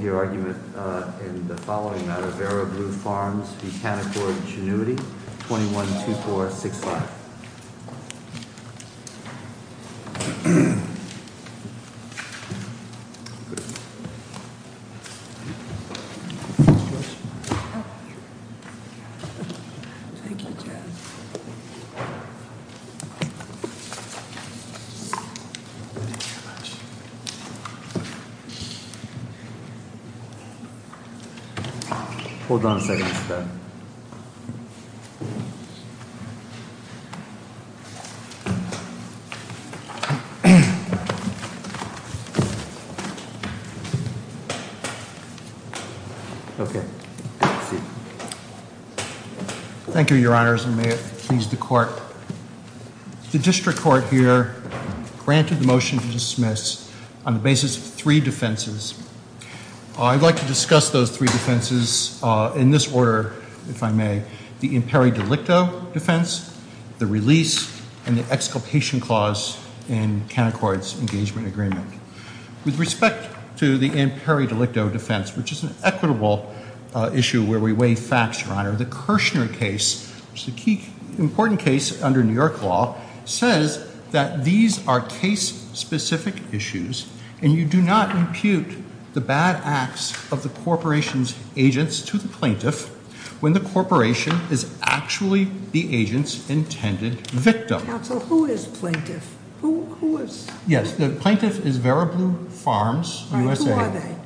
Your argument in the following matter, VeroBlue Farms v. Canaccord Genuity, 21-2465. Hold on a second, Mr. Thank you, Your Honors, and may it please the Court. The District Court here granted the motion to dismiss on the basis of three defenses. I'd like to discuss those three defenses in this order, if I may. The imperi delicto defense, the release, and the exculpation clause in Canaccord's engagement agreement. With respect to the imperi delicto defense, which is an equitable issue where we weigh facts, Your Honor, the Kirshner case, which is an important case under New York law, says that these are case-specific issues and you do not impute the bad acts of the corporation's agents to the plaintiff when the corporation is actually the agent's intended victim. Counsel, who is plaintiff? Who is? Yes, the plaintiff is VeroBlue Farms USA. Who are they?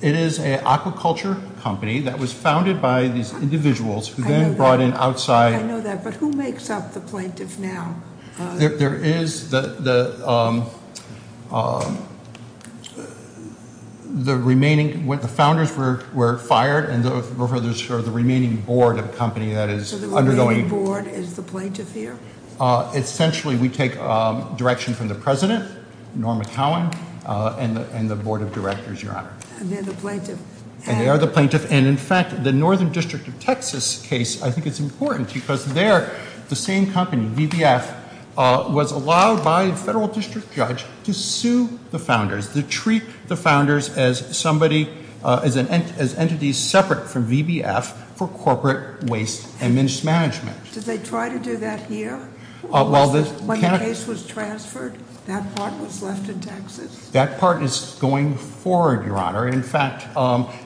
It is an aquaculture company that was founded by these individuals who then brought in outside- I know that, but who makes up the plaintiff now? There is the remaining, when the founders were fired, and the remaining board of the company that is undergoing- So the remaining board is the plaintiff here? Essentially, we take direction from the president, Norma Cowen, and the board of directors, Your Honor. And they're the plaintiff? And they are the plaintiff, and in fact, the Northern District of Texas case, I think it's important because there, the same company, VBF, was allowed by a federal district judge to sue the founders, to treat the founders as entities separate from VBF for corporate waste and mismanagement. Did they try to do that here? When the case was transferred, that part was left in Texas? That part is going forward, Your Honor. In fact,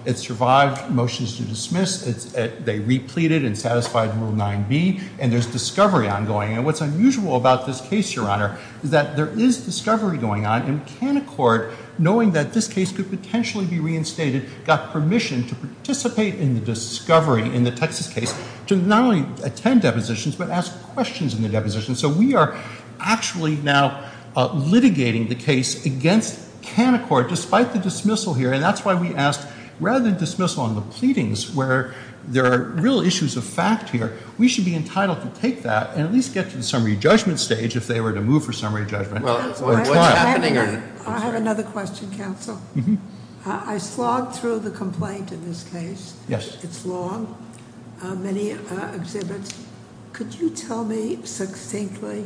it survived motions to dismiss. They repleted and satisfied Rule 9b, and there's discovery ongoing. And what's unusual about this case, Your Honor, is that there is discovery going on, and McCann Court, knowing that this case could potentially be reinstated, got permission to participate in the discovery in the Texas case to not only attend depositions, but ask questions in the depositions. So we are actually now litigating the case against McCann Court despite the dismissal here, and that's why we asked rather than dismissal on the pleadings where there are real issues of fact here, we should be entitled to take that and at least get to the summary judgment stage if they were to move for summary judgment or trial. I have another question, counsel. I slogged through the complaint in this case. Yes. It's long, many exhibits. Could you tell me succinctly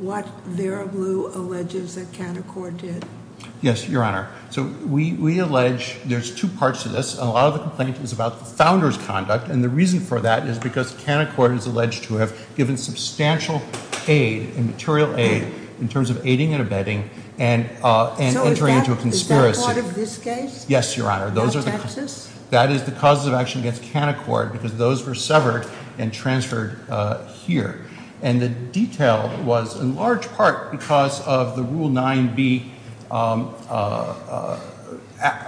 what Vera Blue alleges that McCann Court did? Yes, Your Honor. So we allege there's two parts to this. A lot of the complaint is about the founder's conduct, and the reason for that is because McCann Court is alleged to have given substantial aid and material aid in terms of aiding and abetting and entering into a conspiracy. That's part of this case? Yes, Your Honor. Of Texas? That is the causes of action against McCann Court because those were severed and transferred here, and the detail was in large part because of the Rule 9b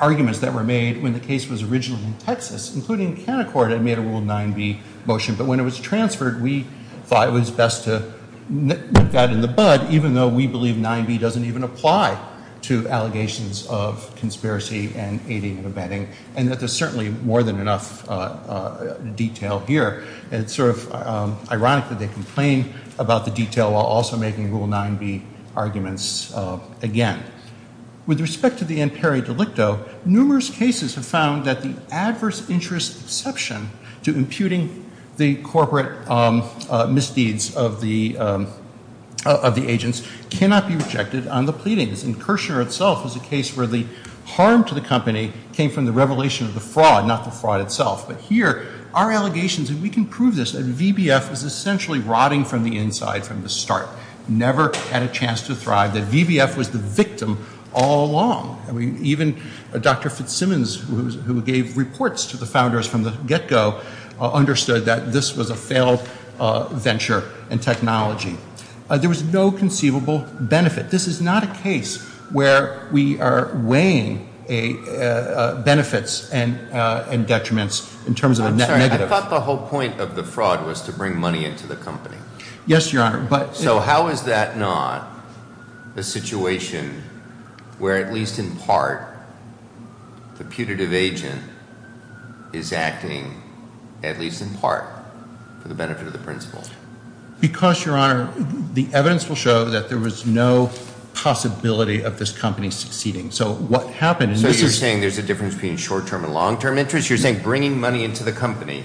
arguments that were made when the case was originally in Texas, including McCann Court had made a Rule 9b motion, but when it was transferred we thought it was best to nip that in the bud, even though we believe 9b doesn't even apply to allegations of conspiracy and aiding and abetting, and that there's certainly more than enough detail here. It's sort of ironic that they complain about the detail while also making Rule 9b arguments again. With respect to the imperi delicto, numerous cases have found that the adverse interest exception to imputing the corporate misdeeds of the agents cannot be rejected on the pleadings, and Kirshner itself was a case where the harm to the company came from the revelation of the fraud, not the fraud itself, but here our allegations, and we can prove this, that VBF was essentially rotting from the inside from the start, never had a chance to thrive, that VBF was the victim all along. Even Dr. Fitzsimmons, who gave reports to the founders from the get-go, understood that this was a failed venture in technology. There was no conceivable benefit. This is not a case where we are weighing benefits and detriments in terms of a net negative. I'm sorry, I thought the whole point of the fraud was to bring money into the company. Yes, Your Honor. So how is that not a situation where, at least in part, the putative agent is acting, at least in part, for the benefit of the principal? Because, Your Honor, the evidence will show that there was no possibility of this company succeeding. So what happened in this is— So you're saying there's a difference between short-term and long-term interest? You're saying bringing money into the company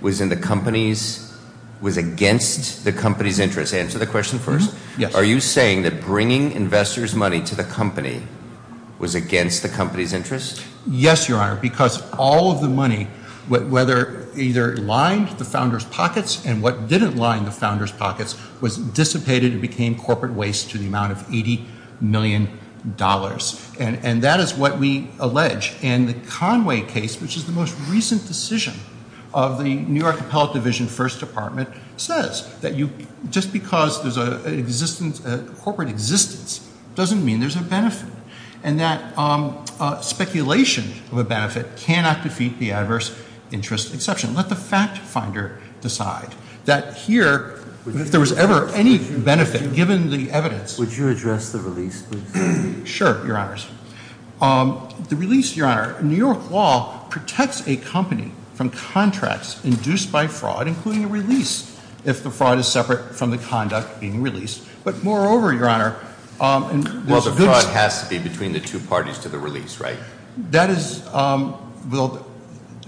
was in the company's—was against the company's interest? Answer the question first. Yes. Are you saying that bringing investors' money to the company was against the company's interest? Yes, Your Honor, because all of the money, whether either it lined the founders' pockets and what didn't line the founders' pockets, was dissipated and became corporate waste to the amount of $80 million. And that is what we allege. And the Conway case, which is the most recent decision of the New York Appellate Division First Department, says that just because there's a corporate existence doesn't mean there's a benefit, and that speculation of a benefit cannot defeat the adverse interest exception. Let the fact finder decide that here, if there was ever any benefit, given the evidence— Would you address the release, please? Sure, Your Honors. The release, Your Honor, New York law protects a company from contracts induced by fraud, including a release, if the fraud is separate from the conduct being released. But moreover, Your Honor— Well, the fraud has to be between the two parties to the release, right? That is—well,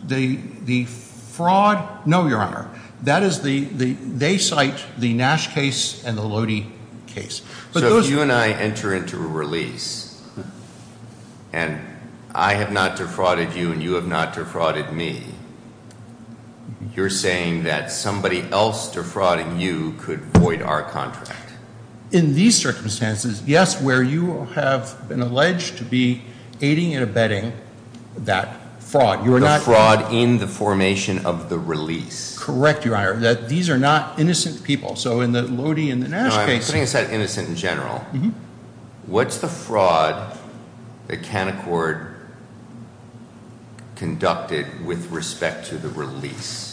the fraud—no, Your Honor. That is the—they cite the Nash case and the Lodi case. So if you and I enter into a release and I have not defrauded you and you have not defrauded me, you're saying that somebody else defrauding you could void our contract? In these circumstances, yes, where you have been alleged to be aiding and abetting that fraud. The fraud in the formation of the release. Correct, Your Honor, that these are not innocent people. So in the Lodi and the Nash case— No, I'm putting aside innocent in general. What's the fraud that Canaccord conducted with respect to the release?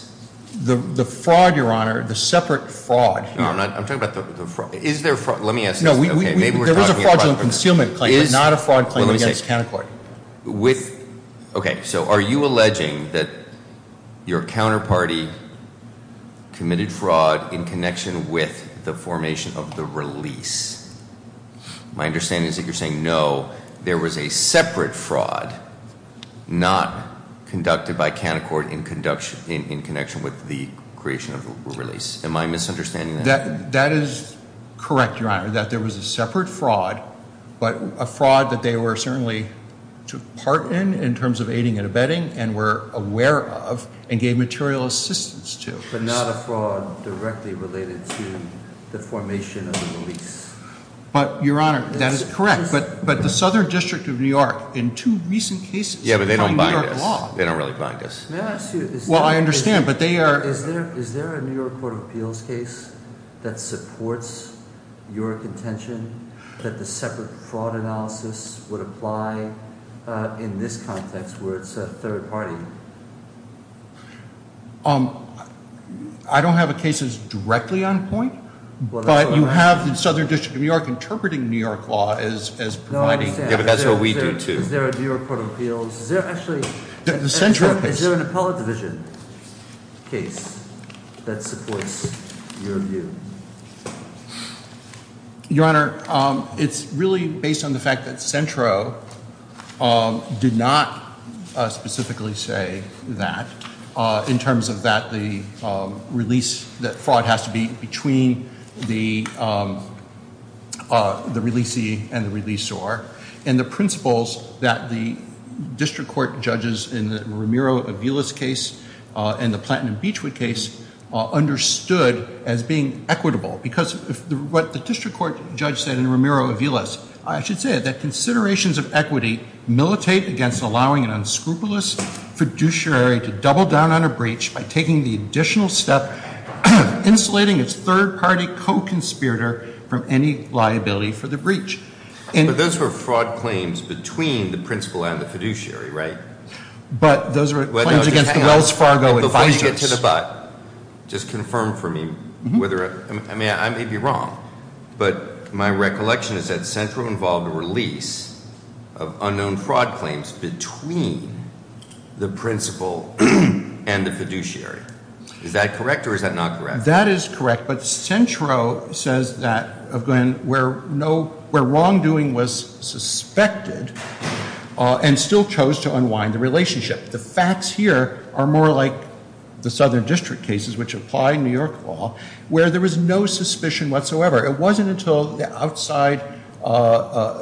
The fraud, Your Honor, the separate fraud here— No, I'm not—I'm talking about the fraud—is there—let me ask this. No, we— Maybe we're talking about— There was a fraudulent concealment claim, but not a fraud claim against Canaccord. Okay, so are you alleging that your counterparty committed fraud in connection with the formation of the release? My understanding is that you're saying no, there was a separate fraud not conducted by Canaccord in connection with the creation of the release. Am I misunderstanding that? That is correct, Your Honor, that there was a separate fraud, but a fraud that they were certainly part in in terms of aiding and abetting and were aware of and gave material assistance to. But not a fraud directly related to the formation of the release. But, Your Honor, that is correct. But the Southern District of New York, in two recent cases— Yeah, but they don't bind us. They don't really bind us. May I ask you— Well, I understand, but they are— Is there a New York Court of Appeals case that supports your contention that the separate fraud analysis would apply in this context where it's a third party? I don't have a case that's directly on point, but you have the Southern District of New York interpreting New York law as providing— No, I understand. Yeah, but that's what we do, too. Is there a New York Court of Appeals? Is there actually— The central case. Is there an appellate division case that supports your view? Your Honor, it's really based on the fact that Centro did not specifically say that in terms of that the release—that fraud has to be between the releasee and the releasor. And the principles that the district court judges in the Romero-Aviles case and the Plantin and Beachwood case understood as being equitable. Because what the district court judge said in Romero-Aviles, I should say that considerations of equity militate against allowing an unscrupulous fiduciary to double down on a breach by taking the additional step of insulating its third party co-conspirator from any liability for the breach. But those were fraud claims between the principal and the fiduciary, right? But those were claims against the Wells Fargo advisers. Before you get to the but, just confirm for me whether—I may be wrong, but my recollection is that Centro involved a release of unknown fraud claims between the principal and the fiduciary. Is that correct or is that not correct? That is correct, but Centro says that where wrongdoing was suspected and still chose to unwind the relationship. The facts here are more like the Southern District cases, which apply in New York law, where there was no suspicion whatsoever. It wasn't until the outside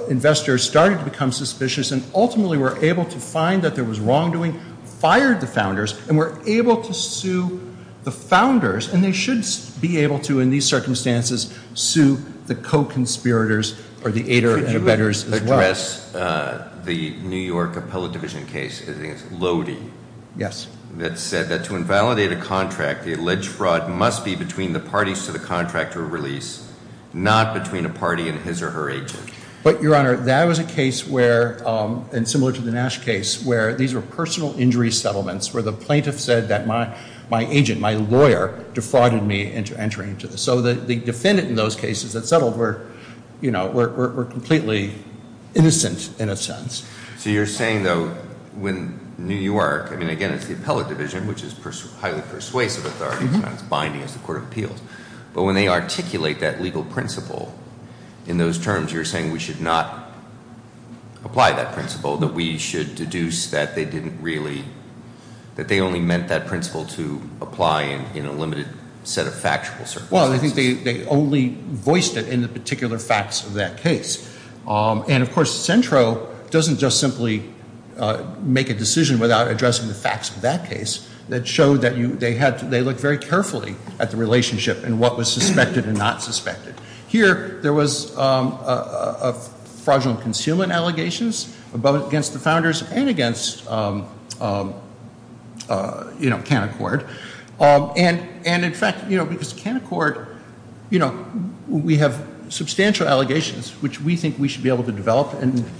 investors started to become suspicious and ultimately were able to find that there was wrongdoing, fired the founders, and were able to sue the founders. And they should be able to, in these circumstances, sue the co-conspirators or the aider and abettors as well. The New York appellate division case, I think it's Lody. Yes. That said that to invalidate a contract, the alleged fraud must be between the parties to the contract or release, not between a party and his or her agent. But, Your Honor, that was a case where, and similar to the Nash case, where these were personal injury settlements where the plaintiff said that my agent, my lawyer, defrauded me into entering into this. So the defendant in those cases that settled were completely innocent, in a sense. So you're saying, though, when New York, I mean, again, it's the appellate division, which is highly persuasive authority. It's not as binding as the Court of Appeals. But when they articulate that legal principle in those terms, you're saying we should not apply that principle, that we should deduce that they only meant that principle to apply in a limited set of factual circumstances? Well, I think they only voiced it in the particular facts of that case. And, of course, Centro doesn't just simply make a decision without addressing the facts of that case. That showed that they looked very carefully at the relationship and what was suspected and not suspected. Here, there was fraudulent concealment allegations, both against the founders and against Canaccord. And, in fact, because Canaccord, we have substantial allegations, which we think we should be able to develop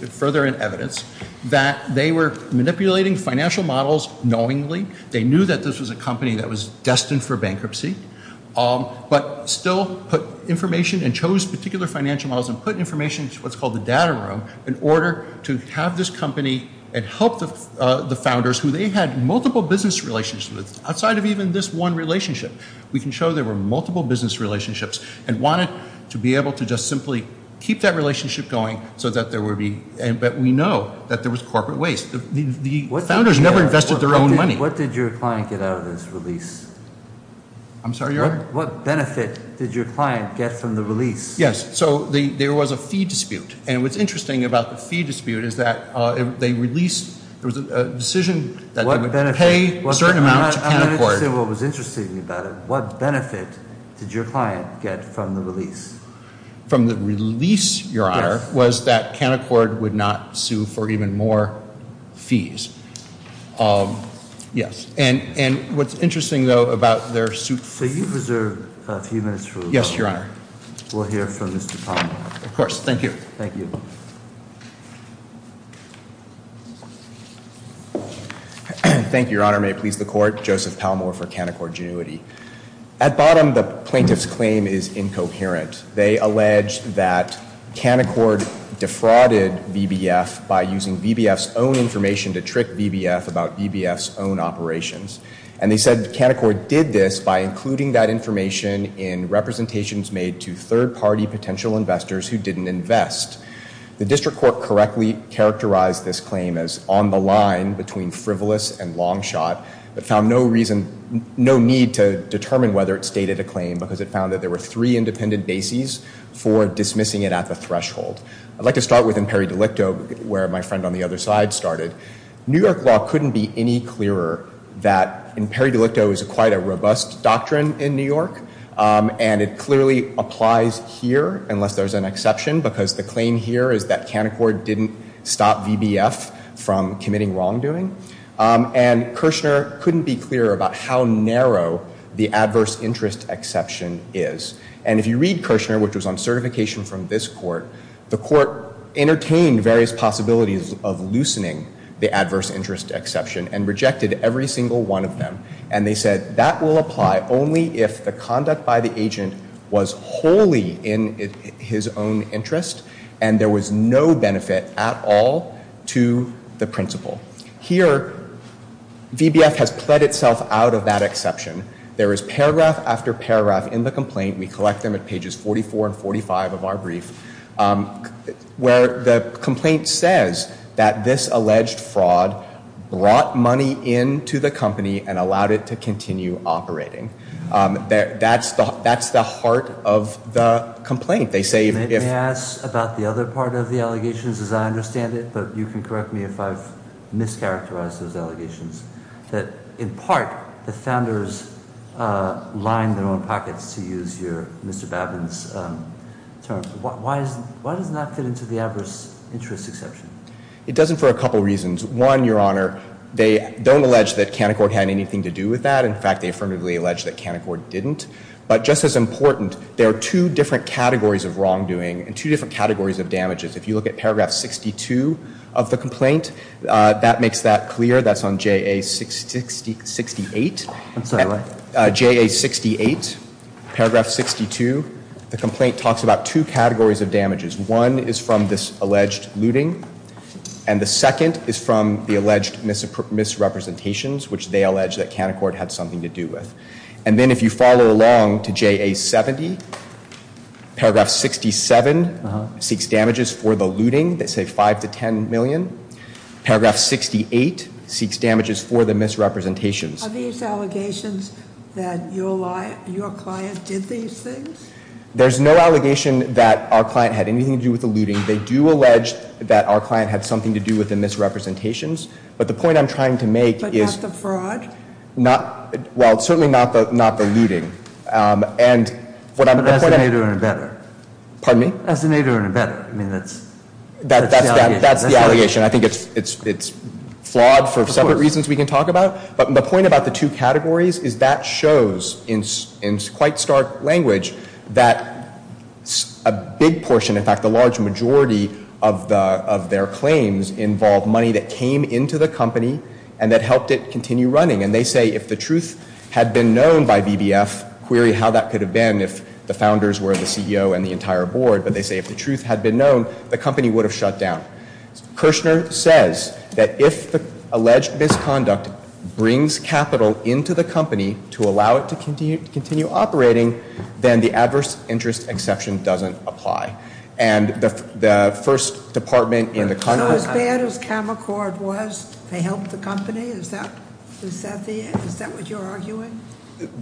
further in evidence, that they were manipulating financial models knowingly. They knew that this was a company that was destined for bankruptcy, but still put information and chose particular financial models and put information into what's called the data room in order to have this company and help the founders, who they had multiple business relationships with, outside of even this one relationship. We can show there were multiple business relationships and wanted to be able to just simply keep that relationship going so that we know that there was corporate waste. The founders never invested their own money. What did your client get out of this release? I'm sorry, Your Honor? What benefit did your client get from the release? Yes. So there was a fee dispute. And what's interesting about the fee dispute is that they released, there was a decision that they would pay a certain amount to Canaccord. I'm going to say what was interesting about it. What benefit did your client get from the release? From the release, Your Honor, was that Canaccord would not sue for even more fees. Yes. And what's interesting, though, about their suit. So you've reserved a few minutes for a moment. Yes, Your Honor. We'll hear from Mr. Palmer. Of course. Thank you. Thank you. Thank you, Your Honor. May it please the Court. Joseph Palmer for Canaccord Genuity. At bottom, the plaintiff's claim is incoherent. They allege that Canaccord defrauded VBF by using VBF's own information to trick VBF about VBF's own operations. And they said Canaccord did this by including that information in representations made to third-party potential investors who didn't invest. The district court correctly characterized this claim as on the line between frivolous and long shot, but found no reason, no need to determine whether it stated a claim because it found that there were three independent bases for dismissing it at the threshold. I'd like to start with Imperi Delicto, where my friend on the other side started. New York law couldn't be any clearer that Imperi Delicto is quite a robust doctrine in New York. And it clearly applies here, unless there's an exception, because the claim here is that Canaccord didn't stop VBF from committing wrongdoing. And Kirshner couldn't be clearer about how narrow the adverse interest exception is. And if you read Kirshner, which was on certification from this court, the court entertained various possibilities of loosening the adverse interest exception and rejected every single one of them. And they said that will apply only if the conduct by the agent was wholly in his own interest, and there was no benefit at all to the principle. Here, VBF has pled itself out of that exception. There is paragraph after paragraph in the complaint. We collect them at pages 44 and 45 of our brief, where the complaint says that this alleged fraud brought money into the company and allowed it to continue operating. That's the heart of the complaint. They say if — Let me ask about the other part of the allegations, as I understand it. But you can correct me if I've mischaracterized those allegations. In part, the founders lined their own pockets, to use Mr. Babin's terms. Why doesn't that fit into the adverse interest exception? It doesn't for a couple of reasons. One, Your Honor, they don't allege that Canaccord had anything to do with that. In fact, they affirmatively allege that Canaccord didn't. But just as important, there are two different categories of wrongdoing and two different categories of damages. If you look at paragraph 62 of the complaint, that makes that clear. That's on JA 68. I'm sorry, what? JA 68, paragraph 62. The complaint talks about two categories of damages. One is from this alleged looting, and the second is from the alleged misrepresentations, which they allege that Canaccord had something to do with. And then if you follow along to JA 70, paragraph 67 seeks damages for the looting. They say 5 to 10 million. Paragraph 68 seeks damages for the misrepresentations. Are these allegations that your client did these things? There's no allegation that our client had anything to do with the looting. They do allege that our client had something to do with the misrepresentations. But the point I'm trying to make is- But not the fraud? Well, certainly not the looting. But that's the nature of an abettor. Pardon me? That's the nature of an abettor. I mean, that's the allegation. That's the allegation. I think it's flawed for separate reasons we can talk about. But the point about the two categories is that shows, in quite stark language, that a big portion, in fact, the large majority of their claims involve money that came into the company and that helped it continue running. And they say if the truth had been known by BBF, query how that could have been if the founders were the CEO and the entire board, but they say if the truth had been known, the company would have shut down. Kirshner says that if the alleged misconduct brings capital into the company to allow it to continue operating, then the adverse interest exception doesn't apply. And the first department in the Congress- they helped the company? Is that what you're arguing?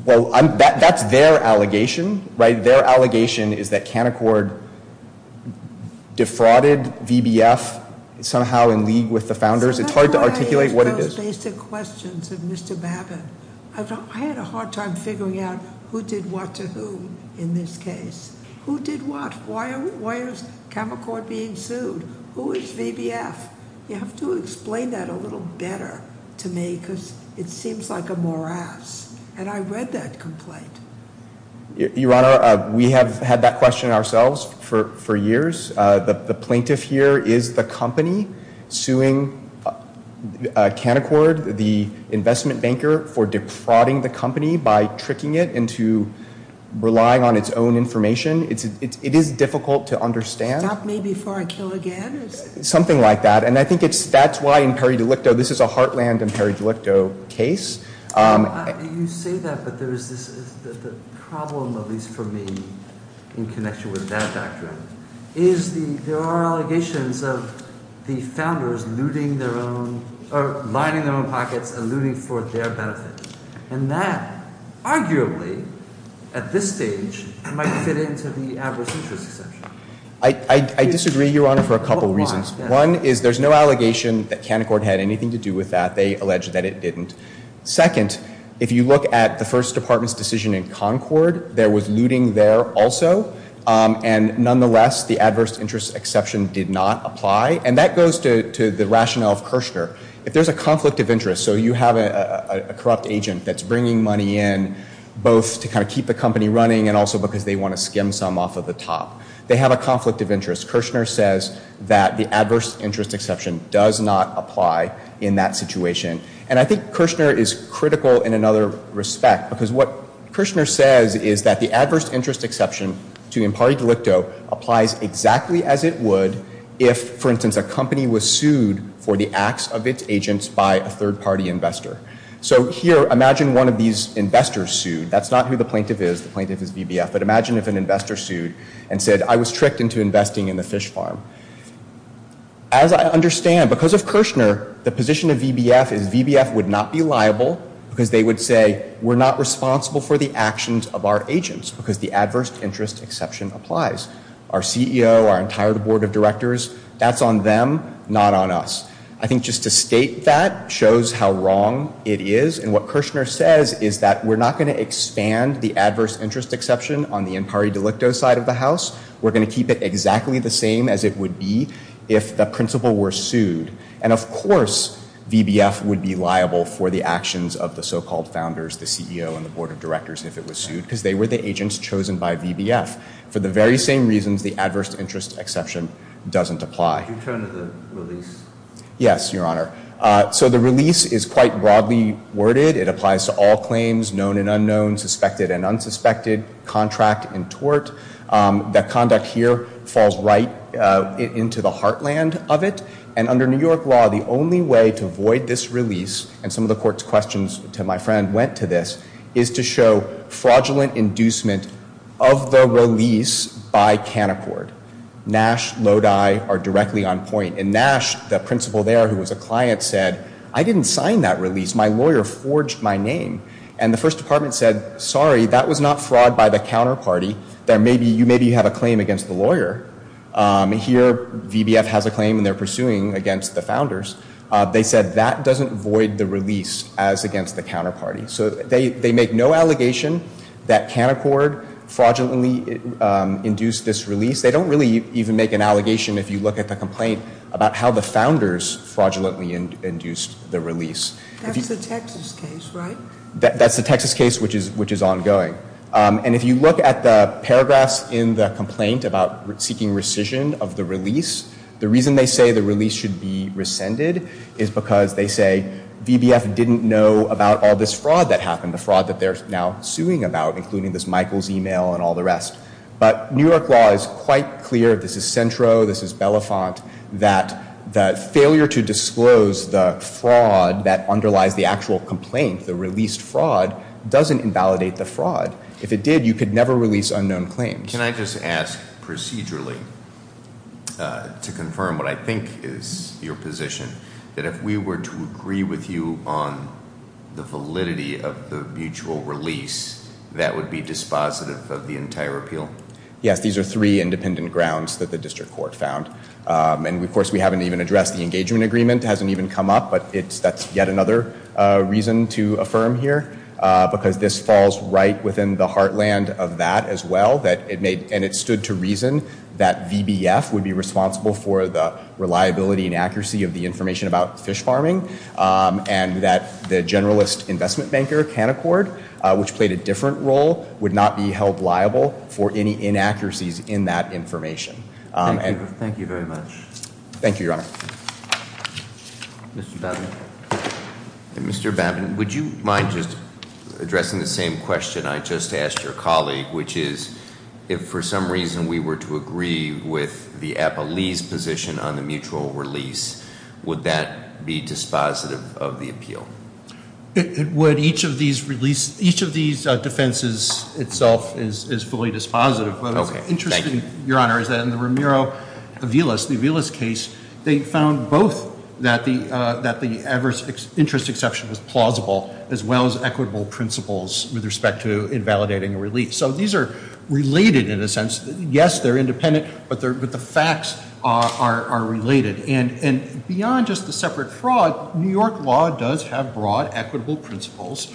Well, that's their allegation, right? Their allegation is that Canaccord defrauded BBF somehow in league with the founders. It's hard to articulate what it is. Those basic questions of Mr. Babin. I had a hard time figuring out who did what to who in this case. Who did what? Why is Canaccord being sued? Who is BBF? You have to explain that a little better to me because it seems like a morass. And I read that complaint. Your Honor, we have had that question ourselves for years. The plaintiff here is the company suing Canaccord, the investment banker, for defrauding the company by tricking it into relying on its own information. It is difficult to understand. Stop me before I kill again? Something like that. And I think that's why in peri-delicto, this is a heartland and peri-delicto case. You say that, but the problem, at least for me, in connection with that doctrine, is there are allegations of the founders looting their own- or lining their own pockets and looting for their benefit. And that, arguably, at this stage, might fit into the adverse interest exemption. I disagree, Your Honor, for a couple reasons. One is there's no allegation that Canaccord had anything to do with that. They allege that it didn't. Second, if you look at the First Department's decision in Concord, there was looting there also. And nonetheless, the adverse interest exception did not apply. And that goes to the rationale of Kirchner. If there's a conflict of interest, so you have a corrupt agent that's bringing money in, both to kind of keep the company running and also because they want to skim some off of the top. They have a conflict of interest. Kirchner says that the adverse interest exception does not apply in that situation. And I think Kirchner is critical in another respect, because what Kirchner says is that the adverse interest exception to peri-delicto applies exactly as it would if, for instance, a company was sued for the acts of its agents by a third-party investor. So here, imagine one of these investors sued. That's not who the plaintiff is. The plaintiff is VBF. But imagine if an investor sued and said, I was tricked into investing in the fish farm. As I understand, because of Kirchner, the position of VBF is VBF would not be liable, because they would say, we're not responsible for the actions of our agents, because the adverse interest exception applies. Our CEO, our entire board of directors, that's on them, not on us. I think just to state that shows how wrong it is. And what Kirchner says is that we're not going to expand the adverse interest exception on the peri-delicto side of the house. We're going to keep it exactly the same as it would be if the principal were sued. And, of course, VBF would be liable for the actions of the so-called founders, the CEO, and the board of directors if it was sued, because they were the agents chosen by VBF. For the very same reasons, the adverse interest exception doesn't apply. Could you turn to the release? Yes, Your Honor. So the release is quite broadly worded. It applies to all claims, known and unknown, suspected and unsuspected, contract and tort. The conduct here falls right into the heartland of it. And under New York law, the only way to avoid this release, and some of the court's questions to my friend went to this, is to show fraudulent inducement of the release by Canaccord. Nash, Lodi are directly on point. In Nash, the principal there who was a client said, I didn't sign that release, my lawyer forged my name. And the first department said, sorry, that was not fraud by the counterparty. Maybe you have a claim against the lawyer. Here, VBF has a claim and they're pursuing against the founders. They said that doesn't void the release as against the counterparty. So they make no allegation that Canaccord fraudulently induced this release. They don't really even make an allegation if you look at the complaint about how the founders fraudulently induced the release. That's the Texas case, right? That's the Texas case, which is ongoing. And if you look at the paragraphs in the complaint about seeking rescission of the release, the reason they say the release should be rescinded is because they say, VBF didn't know about all this fraud that happened, the fraud that they're now suing about, including this Michaels email and all the rest. But New York law is quite clear, this is Centro, this is Belafont, that the failure to disclose the fraud that underlies the actual complaint, the released fraud, doesn't invalidate the fraud. If it did, you could never release unknown claims. Can I just ask procedurally to confirm what I think is your position, that if we were to agree with you on the validity of the mutual release, that would be dispositive of the entire appeal? Yes, these are three independent grounds that the district court found. And, of course, we haven't even addressed the engagement agreement, it hasn't even come up, but that's yet another reason to affirm here, because this falls right within the heartland of that as well, and it stood to reason that VBF would be responsible for the reliability and accuracy of the information about fish farming, and that the generalist investment banker, Canaccord, which played a different role, would not be held liable for any inaccuracies in that information. Thank you very much. Thank you, Your Honor. Mr. Babin. Mr. Babin, would you mind just addressing the same question I just asked your colleague, which is, if for some reason we were to agree with the appellee's position on the mutual release, would that be dispositive of the appeal? Each of these defenses itself is fully dispositive, but what's interesting, Your Honor, is that in the Romero-Villas case, they found both that the interest exception was plausible, as well as equitable principles with respect to invalidating a release. So these are related in a sense. Yes, they're independent, but the facts are related. And beyond just the separate fraud, New York law does have broad equitable principles,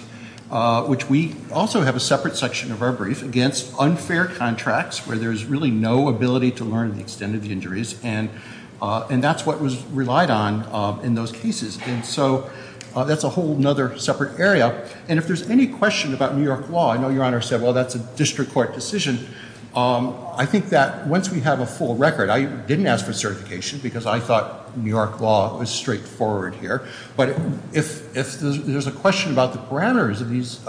which we also have a separate section of our brief, against unfair contracts where there's really no ability to learn the extent of the injuries, and that's what was relied on in those cases. And so that's a whole other separate area. And if there's any question about New York law, I know Your Honor said, well, that's a district court decision. I think that once we have a full record, I didn't ask for certification because I thought New York law was straightforward here, but if there's a question about the parameters of these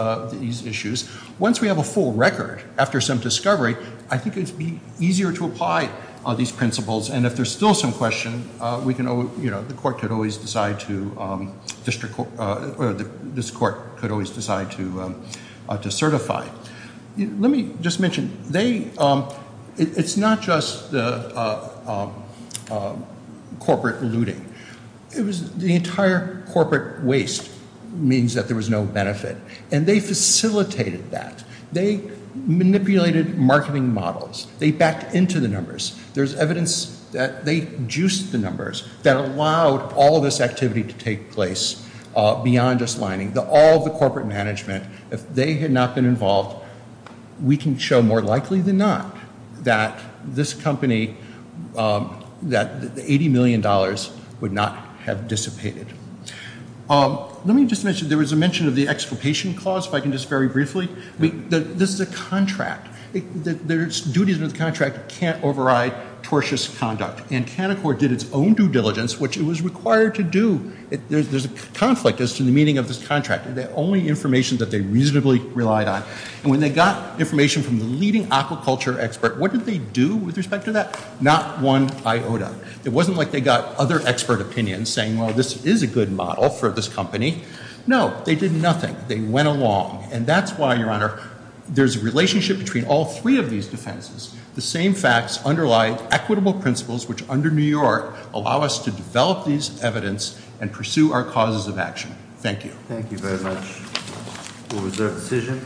issues, once we have a full record, after some discovery, I think it would be easier to apply these principles, and if there's still some question, the court could always decide to certify. Let me just mention, it's not just the corporate looting. The entire corporate waste means that there was no benefit, and they facilitated that. They manipulated marketing models. They backed into the numbers. There's evidence that they juiced the numbers that allowed all this activity to take place beyond just lining. All of the corporate management, if they had not been involved, we can show more likely than not that this company, that the $80 million would not have dissipated. Let me just mention, there was a mention of the exculpation clause, if I can just very briefly. This is a contract. There's duties under the contract that can't override tortious conduct, and Canaccord did its own due diligence, which it was required to do. There's a conflict as to the meaning of this contract. The only information that they reasonably relied on, and when they got information from the leading aquaculture expert, what did they do with respect to that? Not one iota. It wasn't like they got other expert opinions saying, well, this is a good model for this company. No, they did nothing. They went along, and that's why, Your Honor, there's a relationship between all three of these defenses. The same facts underlie equitable principles, which under New York, allow us to develop these evidence and pursue our causes of action. Thank you. Thank you very much. We'll reserve decision.